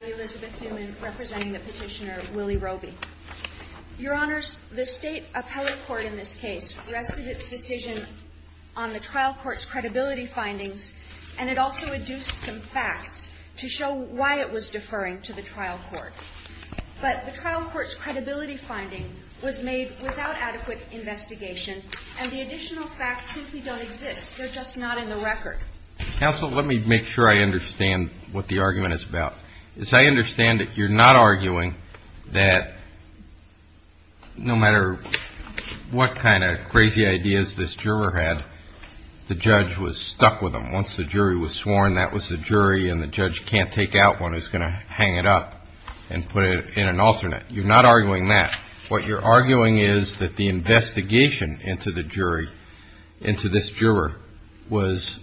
The State Appellate Court in this case rested its decision on the Trial Court's credibility findings and it also adduced some facts to show why it was deferring to the Trial Court. But the Trial Court's credibility finding was made without adequate investigation and the additional facts simply don't exist, they're just not in the record. Counsel, let me make sure I understand what the argument is about. As I understand it, you're not arguing that no matter what kind of crazy ideas this juror had, the judge was stuck with them. Once the jury was sworn, that was the jury and the judge can't take out one who's going to hang it up and put it in an alternate. You're not arguing that. What you're arguing is that the investigation into the jury, into this juror, was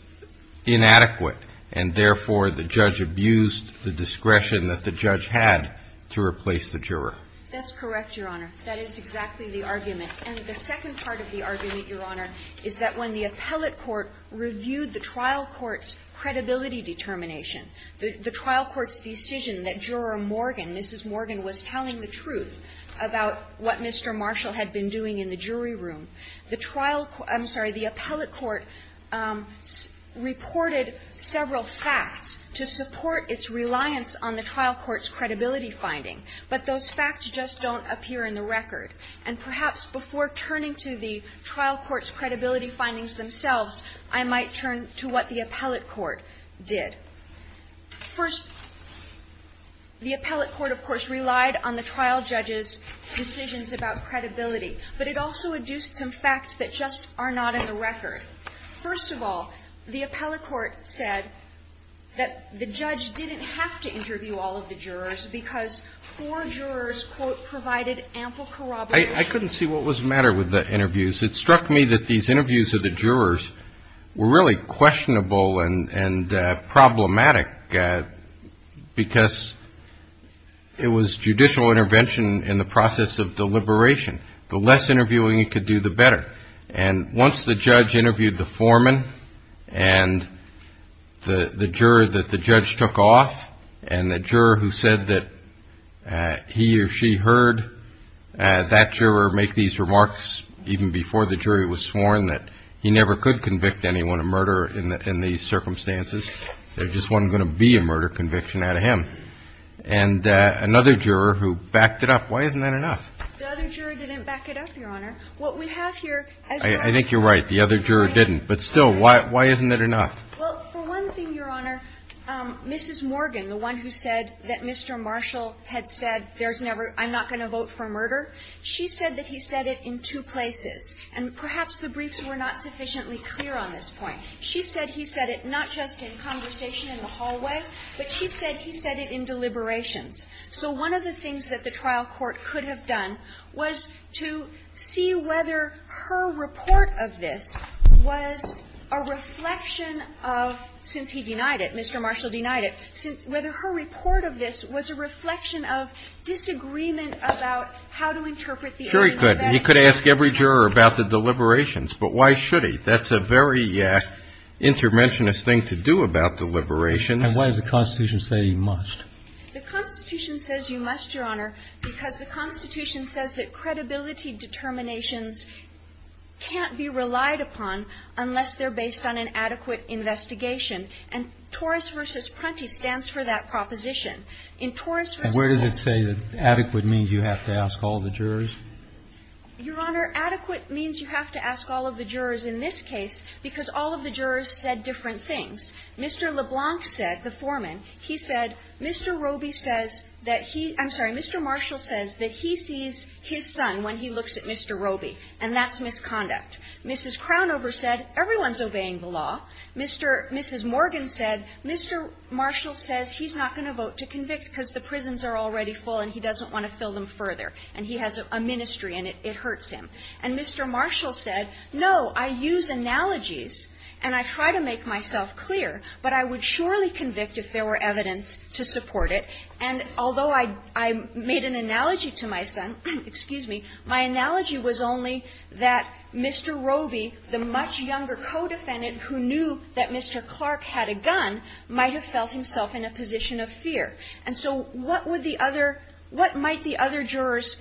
inadequate and therefore the judge abused the discretion that the judge had to replace the juror. That's correct, Your Honor. That is exactly the argument. And the second part of the argument, Your Honor, is that when the Appellate Court reviewed the Trial Court's credibility determination, the Trial Court's decision that Juror Morgan, Mrs. Morgan, was telling the truth about what Mr. Marshall had been doing in the jury room, the Trial Court – I'm sorry, the Appellate Court reported several facts to support its reliance on the Trial Court's credibility finding, but those facts just don't appear in the record. And perhaps before turning to the Trial Court's credibility findings themselves, I might turn to what the Appellate Court did. First, the Appellate Court, of course, relied on the trial judge's decisions about credibility, but it also adduced some facts that just are not in the record. First of all, the Appellate Court said that the judge didn't have to interview all of the jurors because four jurors, quote, provided ample corroboration. I couldn't see what was the matter with the interviews. It struck me that these interviews of the jurors were really questionable and problematic because it was judicial intervention in the process of deliberation. The less interviewing you could do, the better. And once the judge interviewed the foreman and the juror that the judge took off, and the juror who said that he or she heard that juror make these remarks even before the jury was sworn, that he never could convict anyone of murder in these circumstances, there just wasn't going to be a murder conviction out of him. And another juror who backed it up. Why isn't that enough? The other juror didn't back it up, Your Honor. What we have here as well as the other juror didn't, but still, why isn't it enough? Well, for one thing, Your Honor, Mrs. Morgan, the one who said that Mr. Marshall had said there's never – I'm not going to vote for murder, she said that he said it in two places, and perhaps the briefs were not sufficiently clear on this point. She said he said it not just in conversation in the hallway, but she said he said it in deliberations. So one of the things that the trial court could have done was to see whether her report of this was a reflection of, since he denied it, Mr. Marshall denied it, whether her report of this was a reflection of disagreement about how to interpret the argument. Sure he could. He could ask every juror about the deliberations, but why should he? That's a very intermentionist thing to do about deliberations. And why does the Constitution say you must? The Constitution says you must, Your Honor, because the Constitution says that credibility determinations can't be relied upon unless they're based on an adequate investigation. And Torres v. Prunty stands for that proposition. In Torres v. Prunty – And where does it say that adequate means you have to ask all the jurors? Your Honor, adequate means you have to ask all of the jurors in this case because all of the jurors said different things. Mr. LeBlanc said, the foreman, he said, Mr. Roby says that he – I'm sorry, Mr. Marshall says that he sees his son when he looks at Mr. Roby, and that's misconduct. Mrs. Crownover said everyone's obeying the law. Mr. – Mrs. Morgan said Mr. Marshall says he's not going to vote to convict because the prisons are already full and he doesn't want to fill them further. And he has a ministry and it hurts him. And Mr. Marshall said, no, I use analogies and I try to make myself clear, but I would surely convict if there were evidence to support it. And although I made an analogy to my son, excuse me, my analogy was only that Mr. Roby, the much younger co-defendant who knew that Mr. Clark had a gun, might have felt himself in a position of fear. And so what would the other – what might the other jurors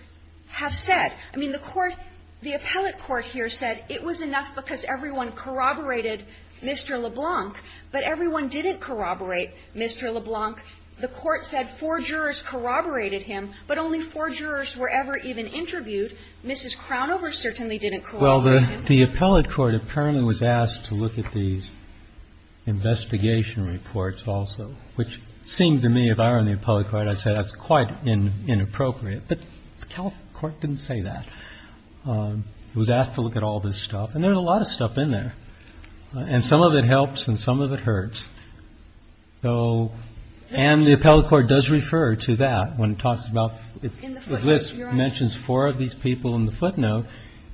have said? I mean, the court – the appellate court here said it was enough because everyone corroborated Mr. LeBlanc, but everyone didn't corroborate Mr. LeBlanc. The court said four jurors corroborated him, but only four jurors were ever even interviewed. Mrs. Crownover certainly didn't corroborate him. Well, the appellate court apparently was asked to look at these investigation reports also, which seemed to me, if I were in the appellate court, I'd say that's quite inappropriate. But the appellate court didn't say that. It was asked to look at all this stuff. And there's a lot of stuff in there. And some of it helps and some of it hurts. So – and the appellate court does refer to that when it talks about – the list mentions four of these people in the footnote.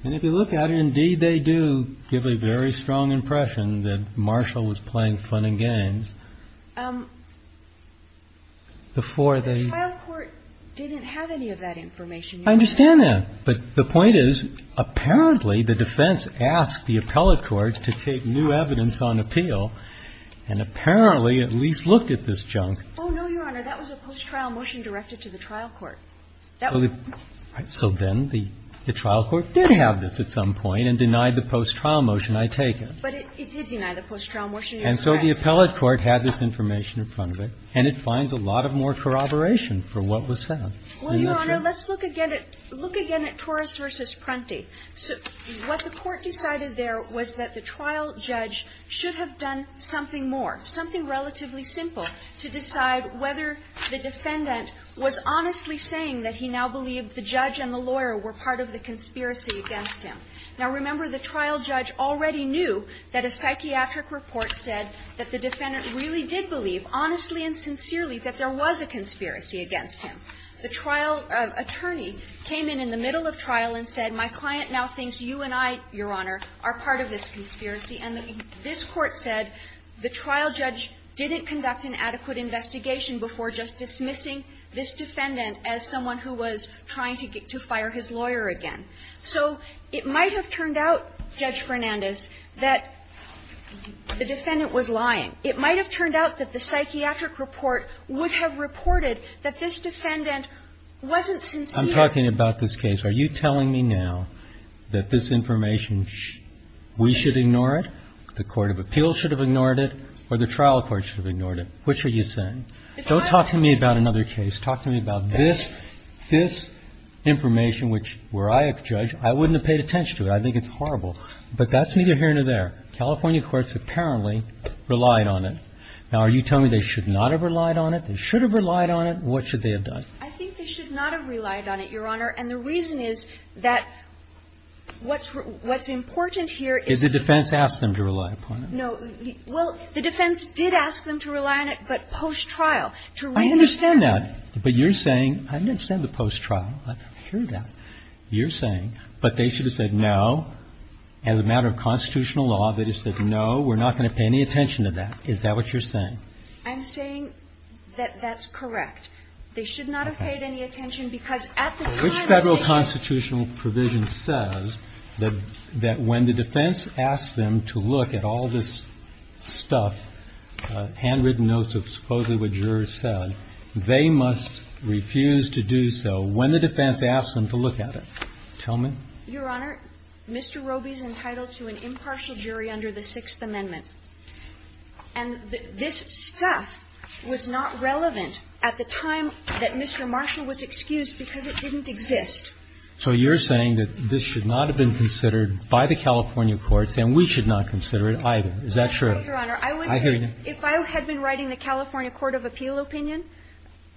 And if you look at it, indeed they do give a very strong impression that Marshall was playing fun and games before the – But the trial court didn't have any of that information. I understand that. But the point is, apparently the defense asked the appellate court to take new evidence on appeal and apparently at least looked at this junk. Oh, no, Your Honor. That was a post-trial motion directed to the trial court. So then the trial court did have this at some point and denied the post-trial motion, I take it. But it did deny the post-trial motion. And so the appellate court had this information in front of it, and it finds a lot of more corroboration for what was found. Well, Your Honor, let's look again at – look again at Torres v. Prunty. What the court decided there was that the trial judge should have done something more, something relatively simple, to decide whether the defendant was honestly saying that he now believed the judge and the lawyer were part of the conspiracy against him. Now, remember, the trial judge already knew that a psychiatric report said that the defendant really did believe, honestly and sincerely, that there was a conspiracy against him. The trial attorney came in in the middle of trial and said, my client now thinks you and I, Your Honor, are part of this conspiracy. And this Court said the trial judge didn't conduct an adequate investigation before just dismissing this defendant as someone who was trying to get to fire his lawyer again. So it might have turned out, Judge Fernandez, that the defendant was lying. It might have turned out that the psychiatric report would have reported that this defendant wasn't sincere. I'm talking about this case. Are you telling me now that this information, we should ignore it, the court of appeals should have ignored it, or the trial court should have ignored it? Which are you saying? Don't talk to me about another case. Talk to me about this, this information, which were I a judge, I wouldn't have paid attention to it. I think it's horrible. But that's neither here nor there. California courts apparently relied on it. Now, are you telling me they should not have relied on it? They should have relied on it. What should they have done? I think they should not have relied on it, Your Honor. And the reason is that what's important here is the defense asked them to rely upon it. No. Well, the defense did ask them to rely on it, but post-trial, to reassess them. But you're saying, I didn't understand the post-trial, I didn't hear that, you're saying, but they should have said no. As a matter of constitutional law, they just said no, we're not going to pay any attention to that. Is that what you're saying? I'm saying that that's correct. They should not have paid any attention, because at the time of the case Which Federal constitutional provision says that when the defense asked them to look at all this stuff, handwritten notes of supposedly what jurors said, they must refuse to do so when the defense asked them to look at it. Tell me. Your Honor, Mr. Roby is entitled to an impartial jury under the Sixth Amendment. And this stuff was not relevant at the time that Mr. Marshall was excused because it didn't exist. So you're saying that this should not have been considered by the California courts, and we should not consider it either. Is that true? I hear you. If I had been writing the California court of appeal opinion,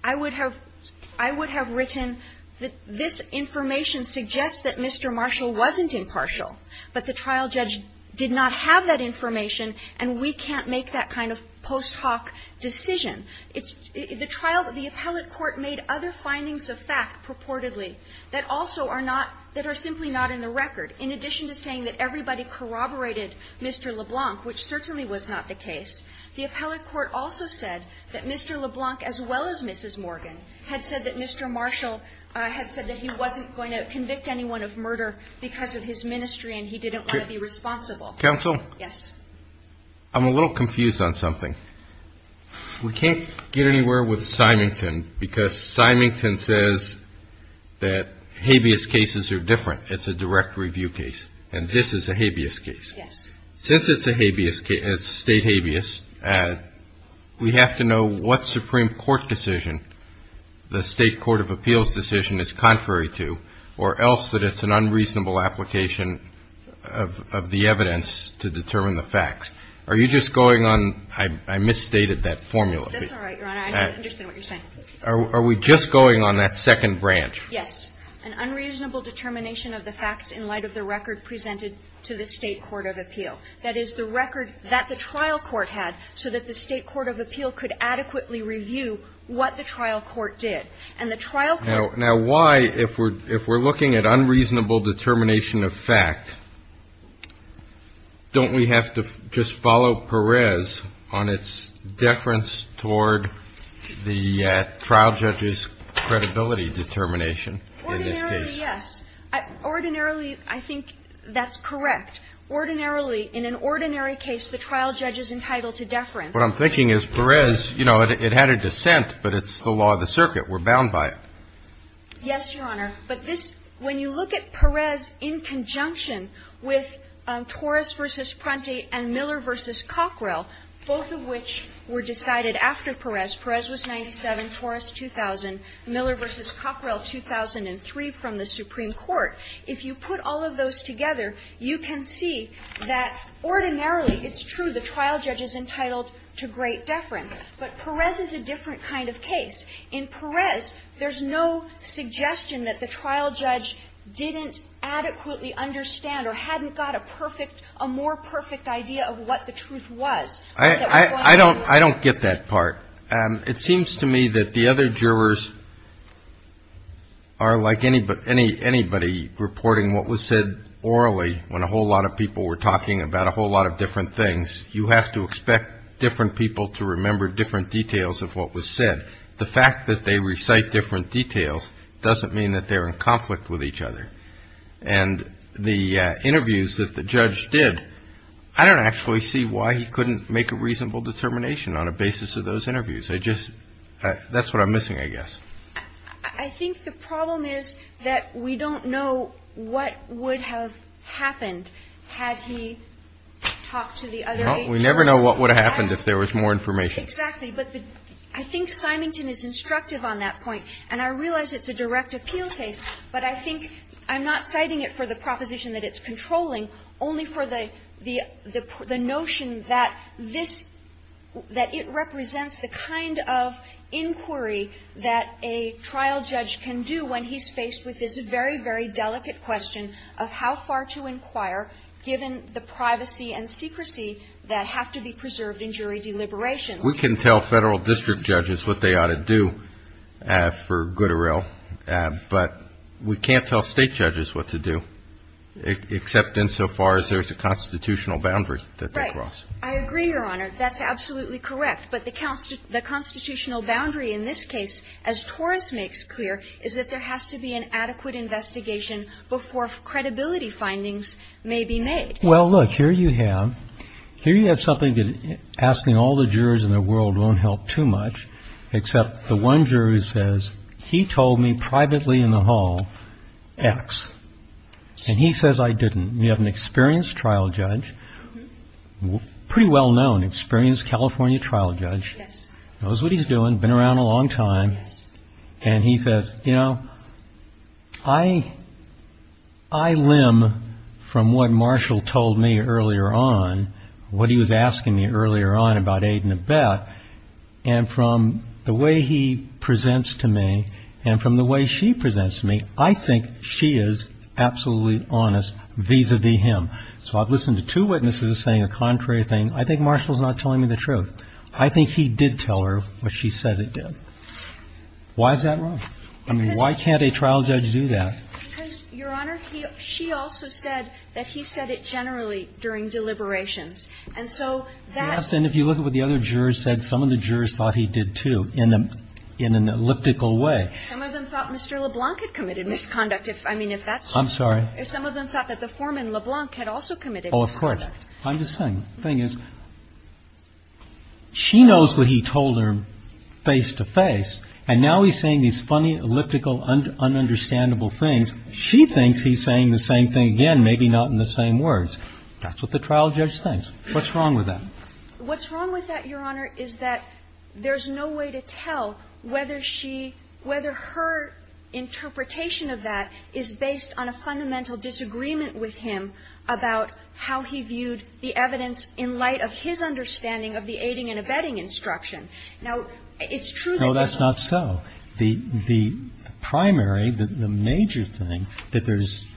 I would have written that this information suggests that Mr. Marshall wasn't impartial, but the trial judge did not have that information, and we can't make that kind of post hoc decision. The trial of the appellate court made other findings of fact purportedly that also are not that are simply not in the record. In addition to saying that everybody corroborated Mr. LeBlanc, which certainly was not the case, the appellate court also said that Mr. LeBlanc, as well as Mrs. Morgan, had said that Mr. Marshall had said that he wasn't going to convict anyone of murder because of his ministry, and he didn't want to be responsible. Counsel? Yes. I'm a little confused on something. We can't get anywhere with Symington, because Symington says that habeas cases are different. It's a direct review case, and this is a habeas case. Yes. Since it's a state habeas, we have to know what Supreme Court decision the state court of appeals decision is contrary to, or else that it's an unreasonable application of the evidence to determine the facts. Are you just going on, I misstated that formula. That's all right, Your Honor, I understand what you're saying. Are we just going on that second branch? Yes. An unreasonable determination of the facts in light of the record presented to the state court of appeal. That is, the record that the trial court had, so that the state court of appeal could adequately review what the trial court did. And the trial court Now, why, if we're looking at unreasonable determination of fact, don't we have to just follow Perez on its deference toward the trial judge's credibility determination? Ordinarily, yes. Ordinarily, I think that's correct. Ordinarily, in an ordinary case, the trial judge is entitled to deference. What I'm thinking is Perez, you know, it had a dissent, but it's the law of the circuit. We're bound by it. Yes, Your Honor. But this, when you look at Perez in conjunction with Torres v. Pronte and Miller v. Cockrell, both of which were decided after Perez, Perez was 97, Torres, 2,000. Miller v. Cockrell, 2,003, from the Supreme Court. If you put all of those together, you can see that ordinarily, it's true, the trial judge is entitled to great deference. But Perez is a different kind of case. In Perez, there's no suggestion that the trial judge didn't adequately understand or hadn't got a perfect, a more perfect idea of what the truth was. I don't get that part. It seems to me that the other jurors are like anybody reporting what was said orally when a whole lot of people were talking about a whole lot of different things. You have to expect different people to remember different details of what was said. The fact that they recite different details doesn't mean that they're in conflict with each other. And the interviews that the judge did, I don't actually see why he couldn't make a better interview. That's what I'm missing, I guess. I think the problem is that we don't know what would have happened had he talked to the other eight jurors. Well, we never know what would have happened if there was more information. Exactly. But I think Symington is instructive on that point. And I realize it's a direct appeal case, but I think, I'm not citing it for the proposition that it's a kind of inquiry that a trial judge can do when he's faced with this very, very delicate question of how far to inquire given the privacy and secrecy that have to be preserved in jury deliberations. We can tell Federal district judges what they ought to do for good or ill, but we can't tell State judges what to do, except insofar as there's a constitutional boundary that they cross. Right. I agree, Your Honor. That's absolutely correct. But the constitutional boundary in this case, as Torres makes clear, is that there has to be an adequate investigation before credibility findings may be made. Well, look, here you have something that asking all the jurors in the world won't help too much, except the one juror says he told me privately in the hall X, and he says I didn't. You have an experienced trial judge, pretty well-known, experienced California trial judge, knows what he's doing, been around a long time, and he says, you know, I, I limb from what Marshall told me earlier on, what he was asking me earlier on about aid and abet, and from the way he presents to me, and from the way she presents to me, I think she is absolutely honest vis-a-vis him. So I've listened to two witnesses saying a contrary thing. I think Marshall's not telling me the truth. I think he did tell her what she said he did. Why is that wrong? I mean, why can't a trial judge do that? Because, Your Honor, he or she also said that he said it generally during deliberations. And so that's the reason. And if you look at what the other jurors said, some of the jurors thought he did, too, in an elliptical way. Some of them thought Mr. LeBlanc had committed misconduct. If, I mean, if that's true. I'm sorry. If some of them thought that the foreman, LeBlanc, had also committed misconduct. Oh, of course. I'm just saying, the thing is, she knows what he told her face to face, and now he's saying these funny, elliptical, un-understandable things. She thinks he's saying the same thing again, maybe not in the same words. That's what the trial judge thinks. What's wrong with that? What's wrong with that, Your Honor, is that there's no way to tell whether she, whether her interpretation of that is based on a fundamental disagreement with him about how he viewed the evidence in light of his understanding of the aiding and abetting instruction. Now, it's true that there's not. No, that's not so. The primary, the major thing, that there's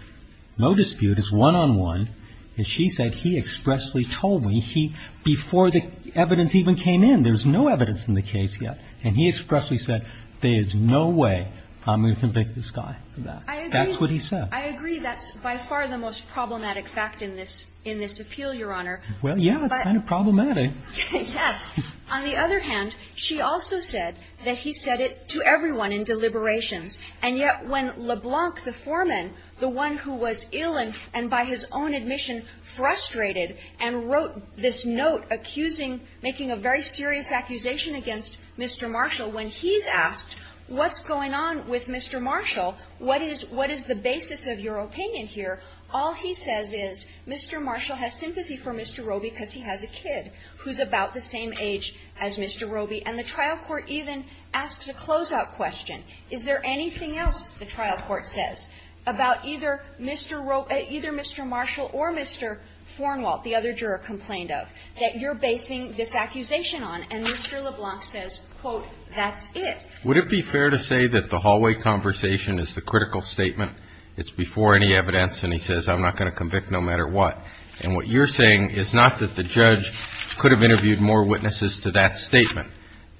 no dispute is one-on-one, as she said, he expressly told me he, before the evidence even came in, there was no evidence in the case yet. And he expressly said, there is no way I'm going to convict this guy for that. That's what he said. I agree. That's by far the most problematic fact in this, in this appeal, Your Honor. Well, yeah, it's kind of problematic. Yes. On the other hand, she also said that he said it to everyone in deliberations. And yet when LeBlanc, the foreman, the one who was ill and by his own admission frustrated and wrote this note accusing, making a very serious accusation against Mr. Marshall, when he's asked what's going on with Mr. Marshall, what is the basis of your opinion here, all he says is, Mr. Marshall has sympathy for Mr. Roby because he has a kid who's about the same age as Mr. Roby. And the trial court even asks a closeout question, is there anything else the trial court says about either Mr. Marshall or Mr. Thornwalt, the other juror complained of, that you're basing this accusation on? And Mr. LeBlanc says, quote, that's it. Would it be fair to say that the hallway conversation is the critical statement? It's before any evidence and he says I'm not going to convict no matter what. And what you're saying is not that the judge could have interviewed more witnesses to that statement,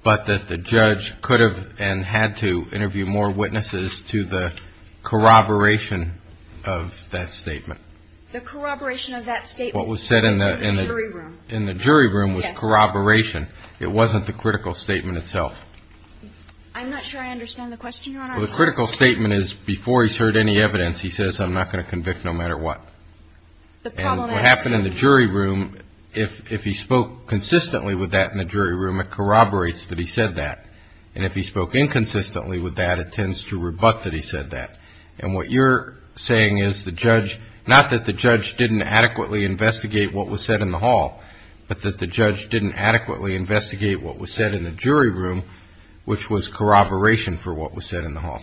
but that the judge could have and had to interview more witnesses to the corroboration of that statement. The corroboration of that statement. What was said in the jury room was corroboration. It wasn't the critical statement itself. I'm not sure I understand the question, Your Honor. Well, the critical statement is before he's heard any evidence, he says I'm not going to convict no matter what. And what happened in the jury room, if he spoke consistently with that in the jury room, it corroborates that he said that. And if he spoke inconsistently with that, it tends to rebut that he said that. And what you're saying is the judge, not that the judge didn't adequately investigate what was said in the hall, but that the judge didn't adequately investigate what was said in the jury room, which was corroboration for what was said in the hall.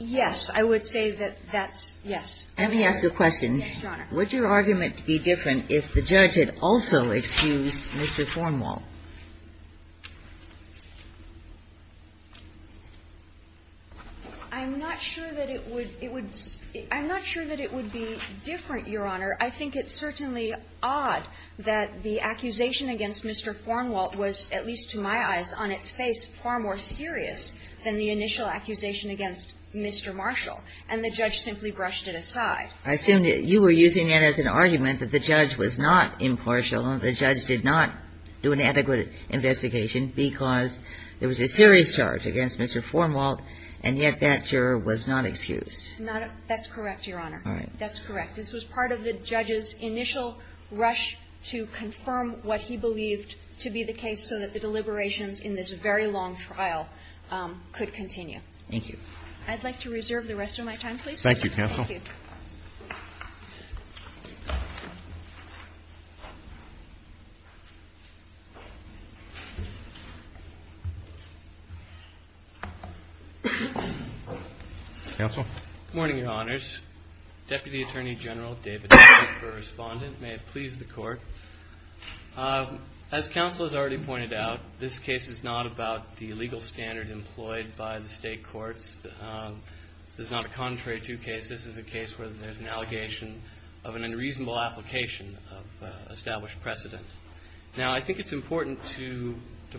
Yes. I would say that that's, yes. Let me ask a question. Yes, Your Honor. Would your argument be different if the judge had also excused Mr. Thornwall? I'm not sure that it would be different, Your Honor. I think it's certainly odd that the accusation against Mr. Thornwall was, at least to my eyes, on its face far more serious than the initial accusation against Mr. Marshall. And the judge simply brushed it aside. I assume that you were using that as an argument that the judge was not impartial and the judge did not do an adequate investigation because there was a serious charge against Mr. Thornwall, and yet that juror was not excused. That's correct, Your Honor. All right. That's correct. This was part of the judge's initial rush to confirm what he believed to be the case so that the deliberations in this very long trial could continue. Thank you. I'd like to reserve the rest of my time, please. Thank you, counsel. Thank you. Counsel? Good morning, Your Honors. Deputy Attorney General David Daly, correspondent. May it please the court. As counsel has already pointed out, this case is not about the legal standard employed by the state courts. This is not a contrary to cases. This is a case where there's an allegation of an unreasonable application of established precedent. Now, I think it's important to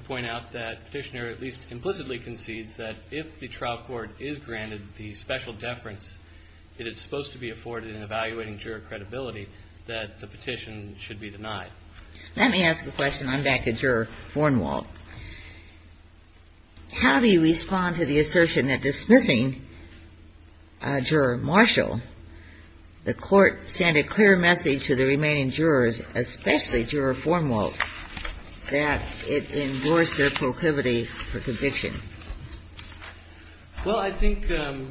point out that Petitioner at least implicitly concedes that if the trial court is granted the special deference it is supposed to be afforded in evaluating juror credibility, that the petition should be denied. Let me ask a question. I'm back to Juror Thornwall. How do you respond to the assertion that dismissing Juror Marshall, the court sent a clear message to the remaining jurors, especially Juror Thornwall, that it endorsed their proclivity for conviction? Well, I think the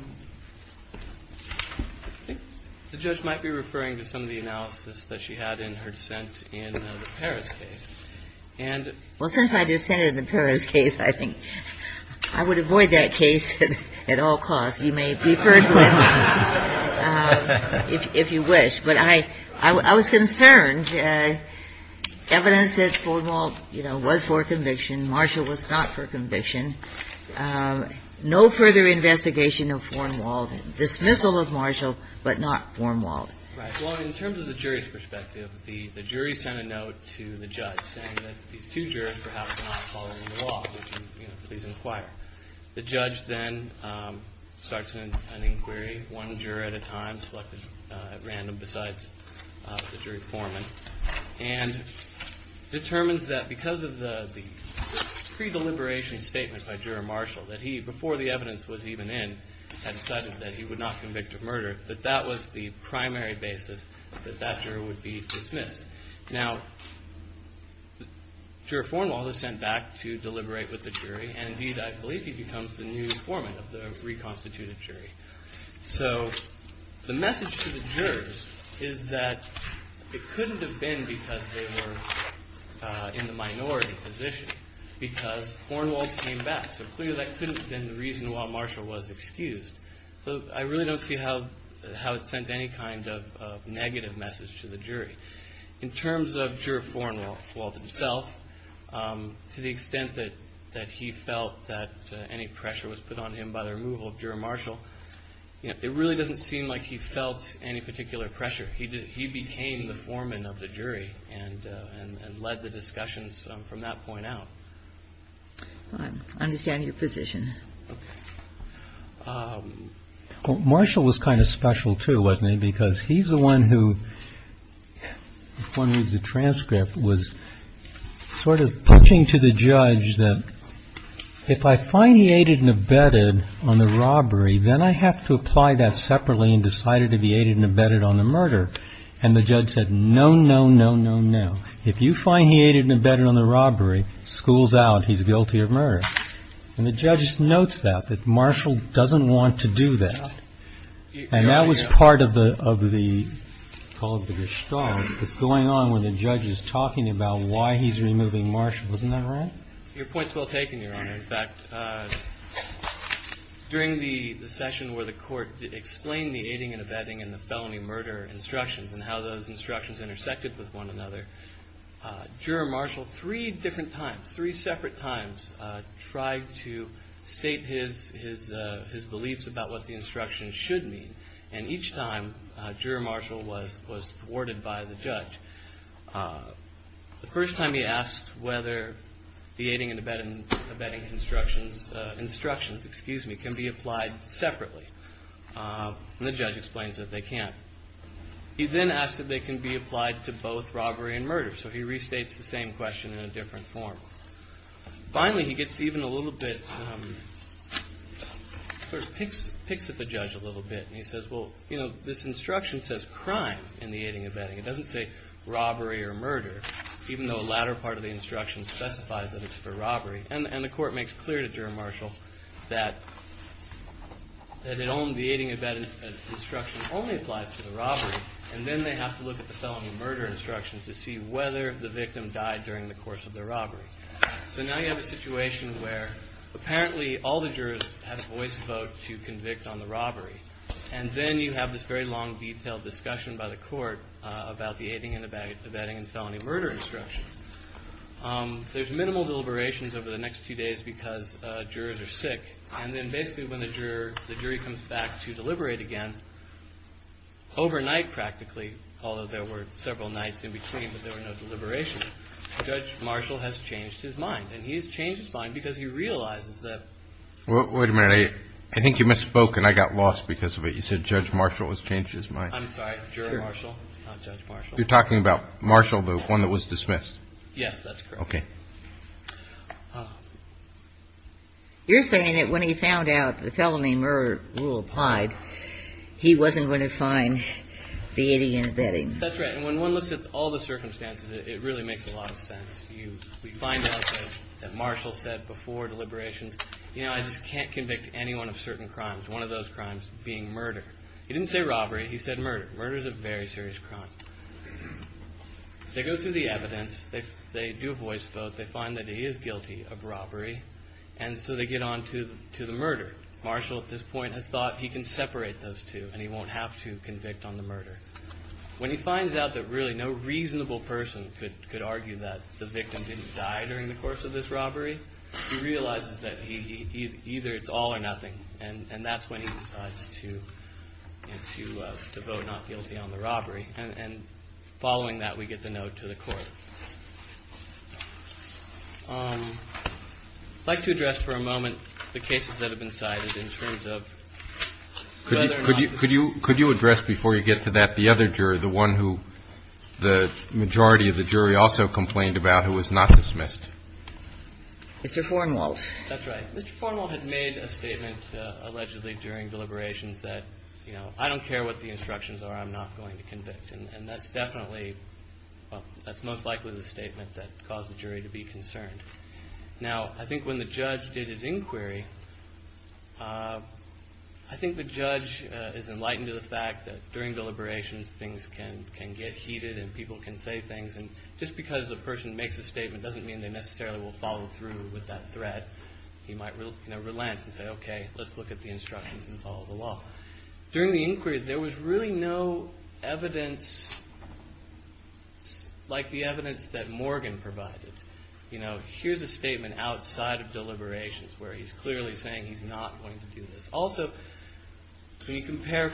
judge might be referring to some of the analysis that she had in her dissent in the Paris case. And since I dissented in the Paris case, I think I would avoid that case at all costs. You may refer to it if you wish. But I was concerned, evidence that Thornwall, you know, was for conviction, Marshall was not for conviction. No further investigation of Thornwall, dismissal of Marshall, but not Thornwall. Right. Well, in terms of the jury's perspective, the jury sent a note to the judge, saying that these two jurors perhaps are not following the law. Would you please inquire? The judge then starts an inquiry, one juror at a time, selected at random besides the jury foreman, and determines that because of the pre-deliberation statement by Juror Marshall, that he, before the evidence was even in, had decided that he would not convict of murder, that that was the primary basis that that juror would be dismissed. Now, Juror Thornwall is sent back to deliberate with the jury, and indeed, I believe he becomes the new foreman of the reconstituted jury. So the message to the jurors is that it couldn't have been because they were in the minority position, because Thornwall came back. So clearly that couldn't have been the reason why Marshall was excused. So I really don't see how it sent any kind of negative message to the jury. In terms of Juror Thornwall himself, to the extent that he felt that any pressure was put on him by the removal of Juror Marshall, it really doesn't seem like he felt any particular pressure. He became the foreman of the jury, and led the discussions from that point out. I understand your position. Marshall was kind of special, too, wasn't he? Because he's the one who, if one reads the transcript, was sort of touching to the judge that, if I find he aided and abetted on the robbery, then I have to apply that separately and decided if he aided and abetted on the murder. And the judge said, no, no, no, no, no. If you find he aided and abetted on the robbery, school's out. He's guilty of murder. And the judge notes that, that Marshall doesn't want to do that. And that was part of the, called the gestalt, that's going on when the judge is talking about why he's removing Marshall. Wasn't that right? Your point's well taken, Your Honor. In fact, during the session where the court explained the aiding and abetting and the felony murder instructions, and how those instructions intersected with one another, Juror Marshall, three different times, three separate times, tried to state his, his, his beliefs about what the instructions should mean. And each time, Juror Marshall was, was thwarted by the judge. The first time he asked whether the aiding and abetting, abetting instructions, instructions, excuse me, can be applied separately. And the judge explains that they can't. He then asks if they can be applied to both robbery and murder. So he restates the same question in a different form. Finally, he gets even a little bit, sort of picks, picks at the judge a little bit. And he says, well, you know, this instruction says crime in the aiding and abetting. It doesn't say robbery or murder, even though a latter part of the instruction specifies that it's for robbery. And, and the court makes clear to Juror Marshall that, that it only, the aiding and abetting instruction only applies to the robbery. And then they have to look at the felony murder instruction to see whether the victim died during the course of the robbery. So now you have a situation where apparently all the jurors have a voice vote to convict on the robbery. And then you have this very long, detailed discussion by the court about the aiding and abetting, abetting and felony murder instruction. There's minimal deliberations over the next two days because jurors are sick. And then basically when the juror, the jury comes back to deliberate again, overnight practically, although there were several nights in between, but there were no deliberations, Judge Marshall has changed his mind and he's changed his mind because he realizes that. Well, wait a minute. I, I think you misspoken. I got lost because of it. You said Judge Marshall has changed his mind. I'm sorry, Juror Marshall, not Judge Marshall. You're talking about Marshall, the one that was dismissed. Yes, that's correct. Okay. You're saying that when he found out the felony murder rule applied, he wasn't going to find the aiding and abetting. That's right. And when one looks at all the circumstances, it really makes a lot of sense. You, we find out that Marshall said before deliberations, you know, I just can't convict anyone of certain crimes. One of those crimes being murder. He didn't say robbery. He said murder, murder is a very serious crime. They go through the evidence. They, they do a voice vote. They find that he is guilty of robbery. And so they get on to, to the murder. Marshall at this point has thought he can separate those two and he won't have to convict on the murder. When he finds out that really no reasonable person could, could argue that the victim didn't die during the course of this robbery. He realizes that he, he, he, either it's all or nothing. And, and that's when he decides to, you know, to, to vote not guilty on the robbery. And, and following that, we get the note to the court. I'd like to address for a moment the cases that have been cited in terms of whether or not. Could you, could you, could you address before you get to that, the other jury, the one who the majority of the jury also complained about, who was not dismissed? Mr. Farnwell. That's right. Mr. Farnwell had made a statement allegedly during deliberations that, you know, I don't care what the instructions are. I'm not going to convict. And, and that's definitely, well, that's most likely the statement that caused the jury to be concerned. Now, I think when the judge did his inquiry I think the judge is enlightened to the fact that during deliberations things can, can get heated and people can say things. And just because a person makes a statement doesn't mean they necessarily will follow through with that threat. He might rel, you know, relance and say, okay, let's look at the instructions and follow the law. During the inquiry there was really no evidence like the evidence that Morgan provided. You know, here's a statement outside of deliberations where he's clearly saying he's not going to do this. Also, when you compare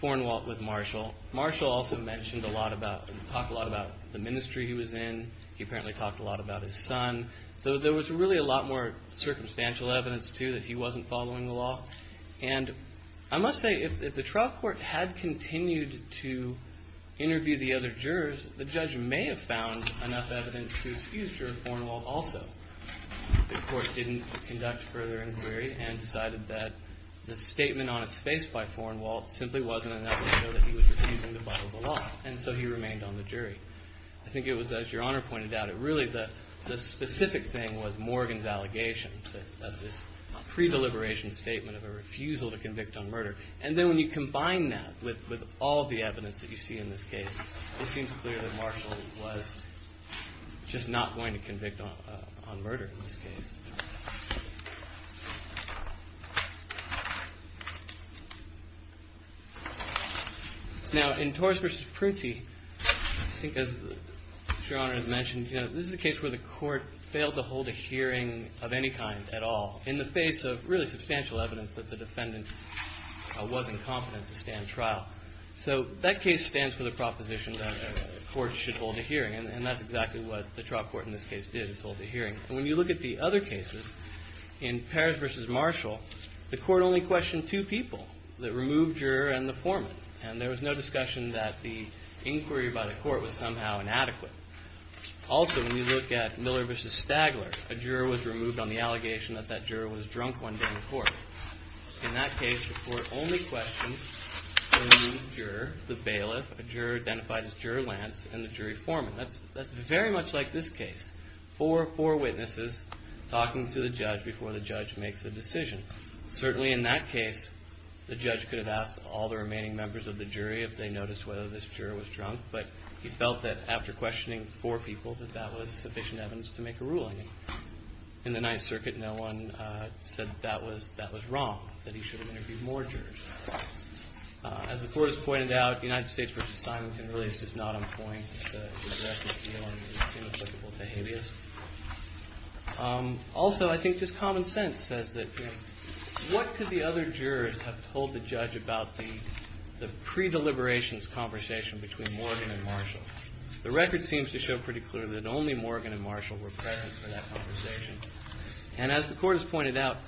Farnwell with Marshall, Marshall also mentioned a lot about, talked a lot about the ministry he was in. He apparently talked a lot about his son. So there was really a lot more circumstantial evidence, too, that he wasn't following the law. And I must say, if, if the trial court had continued to interview the other jurors, the judge may have found enough evidence to excuse Juror Farnwell also. The court didn't conduct further inquiry and decided that the statement on its face by Farnwell simply wasn't enough to show that he was refusing to follow the law. And so he remained on the jury. I think it was, as your honor pointed out, it really, the, the specific thing was Morgan's allegation that, this pre-deliberation statement of a refusal to convict on murder. And then when you combine that with, with all the evidence that you see in this case, it seems clear that Marshall was just not going to convict on, on murder in this case. Now, in Torres versus Prunty, I think as your honor has mentioned, you know, this is a case where the court failed to hold a hearing of any kind at all, in the face of really substantial evidence that the defendant wasn't competent to stand trial. So that case stands for the proposition that a court should hold a hearing. And, and that's exactly what the trial court in this case did, is hold a hearing. And when you look at the other cases, in Paris versus Marshall, the court only questioned two people, the removed juror and the foreman. And there was no discussion that the inquiry by the court was somehow inadequate. Also, when you look at Miller versus Stagler, a juror was removed on the allegation that that juror was drunk one day in court. In that case, the court only questioned the removed juror, the bailiff. A juror identified as Juror Lance and the jury foreman. That's, that's very much like this case. Four, four witnesses talking to the judge before the judge makes a decision. Certainly in that case, the judge could have asked all the remaining members of the jury if they noticed whether this juror was drunk. But he felt that after questioning four people, that that was sufficient evidence to make a ruling. In the Ninth Circuit, no one said that was, that was wrong, that he should have interviewed more jurors. As the court has pointed out, the United States versus Simonton really is just not on point, it's a, it's a direct appeal and it's inapplicable to habeas. Also, I think just common sense says that, you know, what could the other jurors have told the judge about the, the pre-deliberations conversation between Morgan and Marshall? The record seems to show pretty clear that only Morgan and Marshall were present for that conversation. And as the court has pointed out,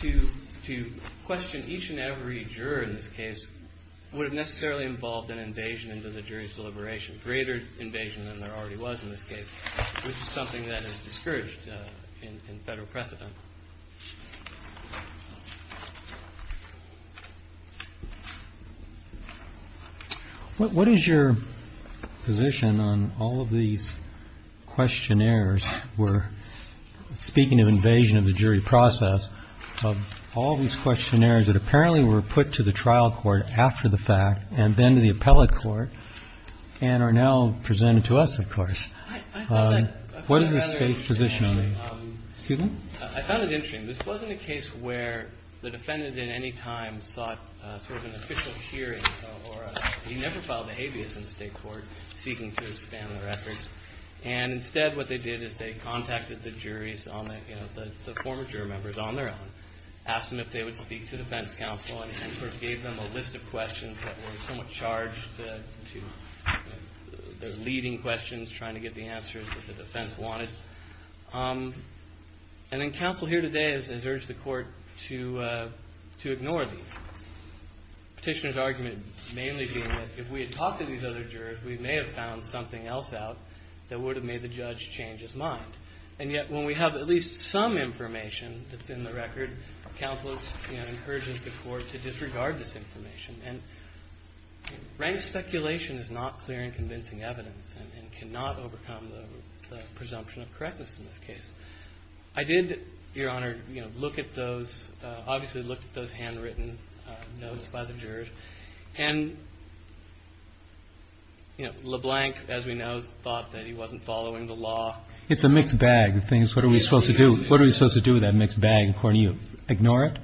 to, to question each and every juror in this case would have necessarily involved an invasion into the jury's deliberation. Greater invasion than there already was in this case. Which is something that is discouraged in, in federal precedent. What, what is your position on all of these questionnaires? We're speaking of invasion of the jury process. Of all these questionnaires that apparently were put to the trial court after the fact, and then to the appellate court, and are now presented to us, of course. What is the State's position on these? Excuse me? I found it interesting. This wasn't a case where the defendant in any time sought sort of an official hearing, or he never filed a habeas in the state court, seeking to expand the record. And instead what they did is they contacted the juries on the, you know, the, the former juror members on their own. Asked them if they would speak to defense counsel and gave them a list of questions that were somewhat charged to their leading questions, trying to get the answers that the defense wanted. And then counsel here today has, has urged the court to to ignore these. Petitioner's argument mainly being that if we had talked to these other jurors, we may have found something else out that would have made the judge change his mind. And yet when we have at least some information that's in the record, counsel, you know, encourages the court to disregard this information. And rank speculation is not clear and convincing evidence, and, and cannot overcome the, the presumption of correctness in this case. I did, Your Honor, you know, look at those obviously looked at those handwritten notes by the jurors. And, you know, LeBlanc, as we know, thought that he wasn't following the law. It's a mixed bag of things. What are we supposed to do? What are we supposed to do with that mixed bag, according to you? Ignore it?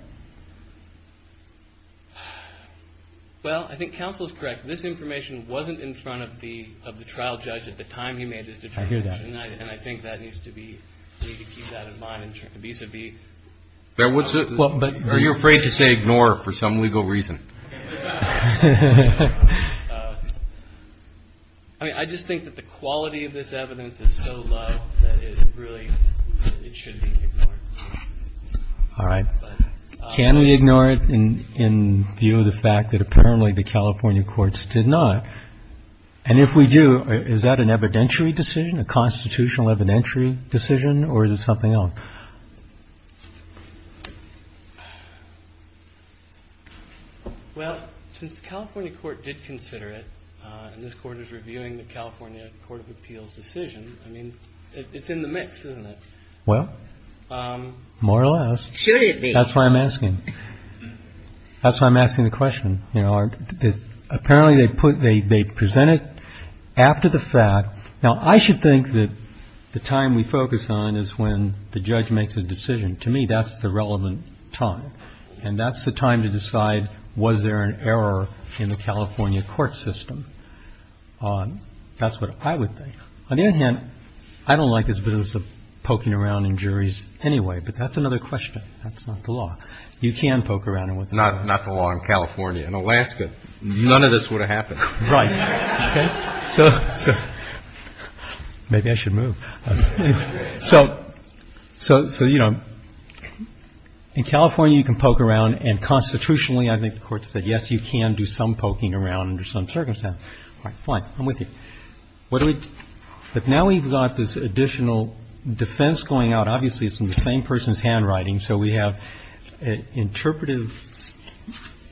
Well, I think counsel's correct. This information wasn't in front of the, of the trial judge at the time he made this determination. I hear that. And I, and I think that needs to be, we need to keep that in mind in turn, vis-a-vis. There was a, are you afraid to say ignore for some legal reason? I mean, I just think that the quality of this evidence is so low that it really, it should be ignored. All right. Can we ignore it in, in view of the fact that apparently the California courts did not? And if we do, is that an evidentiary decision, a constitutional evidentiary decision, or is it something else? Well, since the California court did consider it, and this court is reviewing the California court of appeals decision, I mean, it's in the mix, isn't it? Well, more or less. Should it be? That's what I'm asking. That's why I'm asking the question. You know, apparently they put, they, they present it after the fact. Now, I should think that the time we focus on is when the judge makes a decision. To me, that's the relevant time. And that's the time to decide, was there an error in the California court system? That's what I would think. On the other hand, I don't like this business of poking around in juries anyway, but that's another question. That's not the law. You can poke around in what the law. Not the law in California. In Alaska, none of this would have happened. Right. Okay. So, so maybe I should move. So, so, so, you know, in California, you can poke around and constitutionally, I think the court said, yes, you can do some poking around under some circumstance. All right, fine. I'm with you. What do we, but now we've got this additional defense going out. Obviously, it's in the same person's handwriting. So we have an interpretive,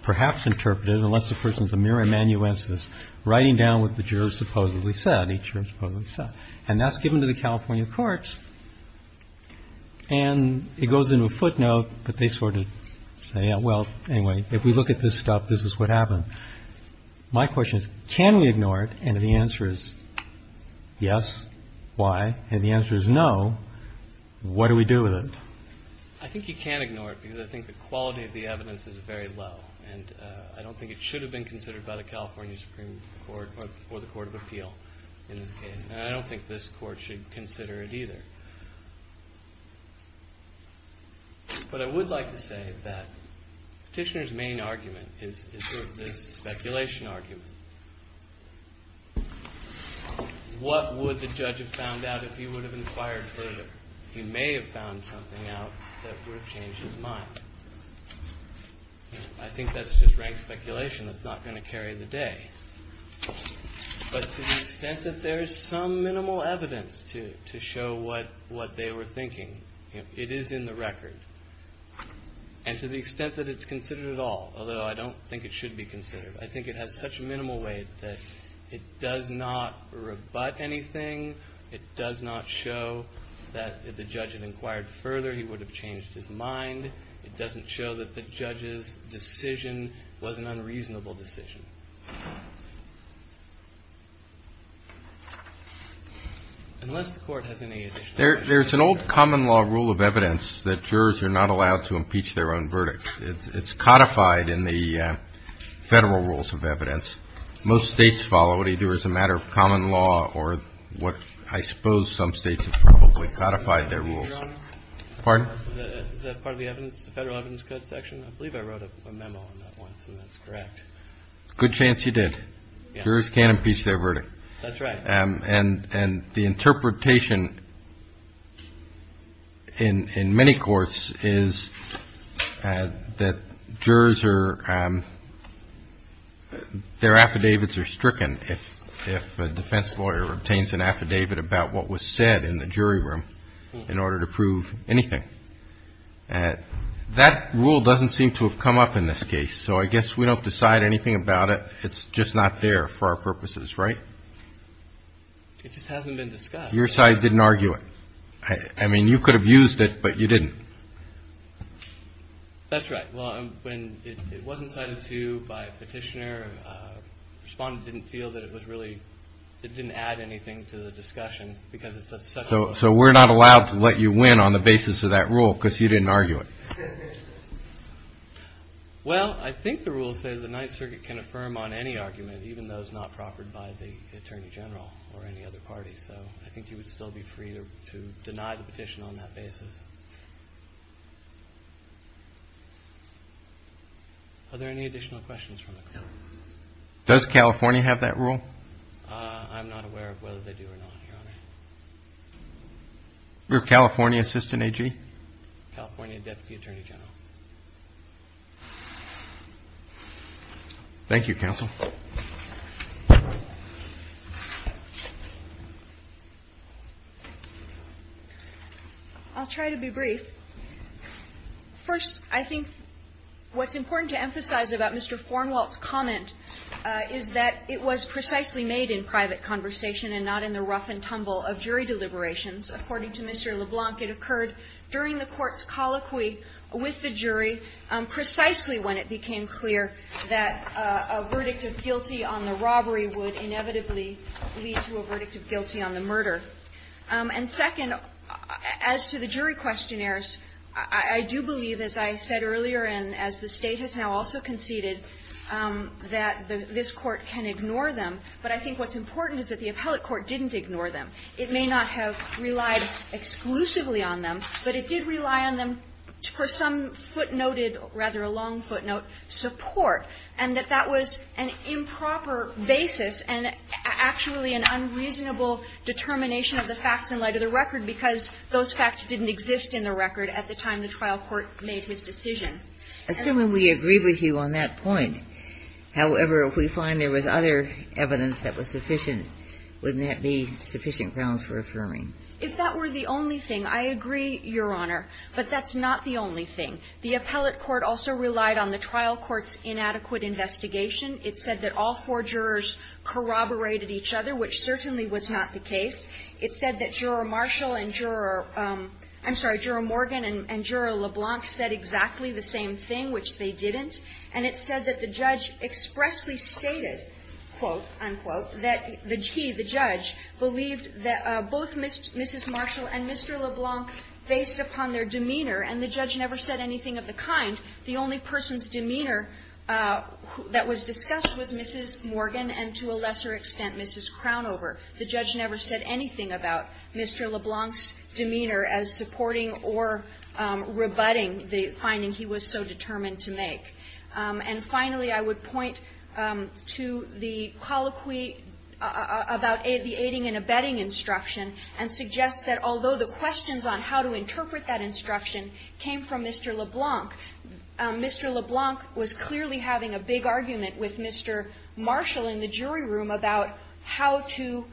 perhaps interpretive, unless the person's a mere amanuensis, writing down what the jurors supposedly said, each juror supposedly said. And that's given to the California courts. And it goes into a footnote, but they sort of say, well, anyway, if we look at this stuff, this is what happened. My question is, can we ignore it? And the answer is yes. Why? And the answer is no. What do we do with it? I think you can't ignore it because I think the quality of the evidence is very low. And I don't think it should have been considered by the California Supreme Court or the Court of Appeal in this case. And I don't think this court should consider it either. But I would like to say that Petitioner's main argument is this speculation argument. What would the judge have found out if he would have inquired further? He may have found something out that would have changed his mind. I think that's just rank speculation. That's not going to carry the day. But to the extent that there is some minimal evidence to show what they were thinking, it is in the record. And to the extent that it's considered at all, although I don't think it should be considered, I think it has such a minimal weight that it does not rebut anything. It does not show that if the judge had inquired further, he would have changed his mind. It doesn't show that the judge's decision was an unreasonable decision. Unless the court has any additional questions. There's an old common law rule of evidence that jurors are not allowed to impeach their own verdicts. It's codified in the federal rules of evidence. Most states follow what they do as a matter of common law or what I suppose some states have probably codified their rules. Pardon? Is that part of the evidence, the federal evidence code section? I believe I wrote a memo on that once and that's correct. Good chance you did. Jurors can't impeach their verdict. That's right. And the interpretation in many courts is that jurors are, their affidavits are stricken if a defense lawyer obtains an affidavit about what was said in the jury room in order to prove anything. That rule doesn't seem to have come up in this case, so I guess we don't decide anything about it. It's just not there for our purposes, right? It just hasn't been discussed. Your side didn't argue it. I mean, you could have used it, but you didn't. That's right. Well, when it wasn't cited to you by a petitioner, the respondent didn't feel that it was really, it didn't add anything to the discussion because it's such a large case. So we're not allowed to let you win on the basis of that rule because you didn't argue it. Well, I think the rules say that the Ninth Circuit can affirm on any argument, even those not proffered by the Attorney General or any other party. So I think you would still be free to deny the petition on that basis. Are there any additional questions from the court? Does California have that rule? I'm not aware of whether they do or not, Your Honor. Your California assistant AG? California Deputy Attorney General. Thank you, Counsel. I'll try to be brief. First, I think what's important to emphasize about Mr. LeBlanc, it occurred during the Court's colloquy with the jury, precisely when it became clear that a verdict of guilty on the robbery would inevitably lead to a verdict of guilty on the murder. And second, as to the jury questionnaires, I do believe, as I said earlier and as the State has now also conceded, that this court can ignore them. But I think what's important is that the appellate court didn't ignore them. It may not have relied exclusively on them, but it did rely on them for some footnoted, rather a long footnote, support, and that that was an improper basis and actually an unreasonable determination of the facts in light of the record, because those facts didn't exist in the record at the time the trial court made his decision. Assuming we agree with you on that point, however, if we find there was other evidence that was sufficient, wouldn't that be sufficient grounds for affirming? If that were the only thing, I agree, Your Honor, but that's not the only thing. The appellate court also relied on the trial court's inadequate investigation. It said that all four jurors corroborated each other, which certainly was not the case. It said that Juror Marshall and Juror – I'm sorry, Juror Morgan and Juror LeBlanc said exactly the same thing, which they didn't. And it said that the judge expressly stated, quote, unquote, that he, the judge, believed that both Mrs. Marshall and Mr. LeBlanc based upon their demeanor, and the judge never said anything of the kind. The only person's demeanor that was discussed was Mrs. Morgan and, to a lesser extent, Mrs. Crownover. The judge never said anything about Mr. LeBlanc's demeanor as supporting or rebutting the finding he was so determined to make. And finally, I would point to the colloquy about the aiding and abetting instruction and suggest that although the questions on how to interpret that instruction came from Mr. LeBlanc, Mr. LeBlanc was clearly having a big argument with Mr. Marshall in the jury room about how to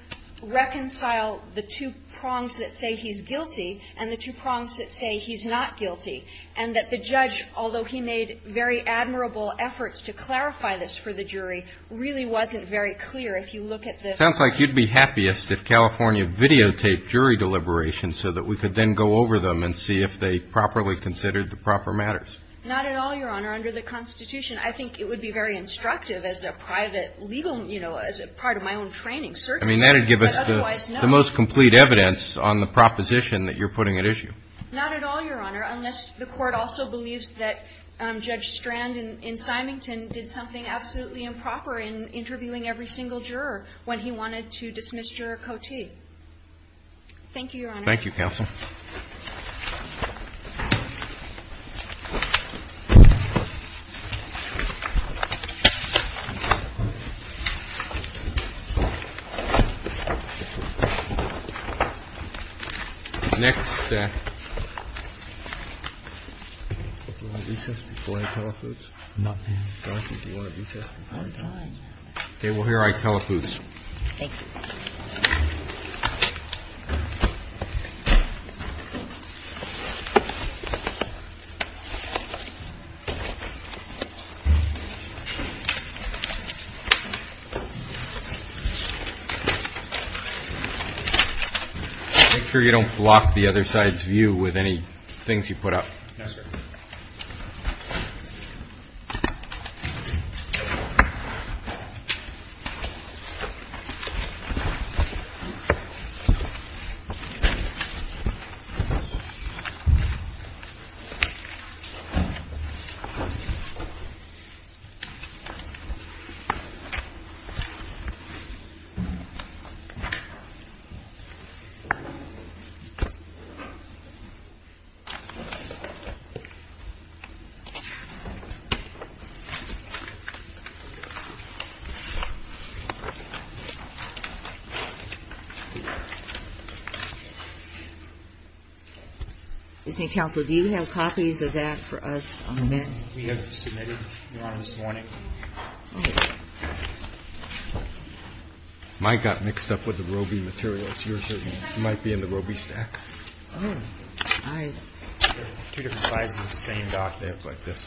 reconcile the two prongs that say he's guilty and the two prongs that say he's not guilty. And that the judge, although he made very admirable efforts to clarify this for the jury, really wasn't very clear. If you look at the ---- Roberts, sounds like you'd be happiest if California videotaped jury deliberations so that we could then go over them and see if they properly considered the proper matters. Not at all, Your Honor. Under the Constitution, I think it would be very instructive as a private legal, you know, as a part of my own training, certainly, but otherwise, no. I mean, that would give us the most complete evidence on the proposition that you're putting at issue. Not at all, Your Honor, unless the Court also believes that Judge Strand in Symington did something absolutely improper in interviewing every single juror when he wanted to dismiss Juror Cote. Thank you, Your Honor. Thank you, counsel. Next, if you want to recess before I telephone? Not now, Your Honor. Do you want to recess? I'm done. Okay. Well, here I telephone. Thank you. Make sure you don't block the other side's view with any things you put up. Yes, sir. Counsel, do you have copies of that for us on the men? We have submitted, Your Honor, this morning. Mike got mixed up with the Roe v. Materials. Yours might be in the Roe v. Stack. Oh, hi. They're two different sizes of the same document like this.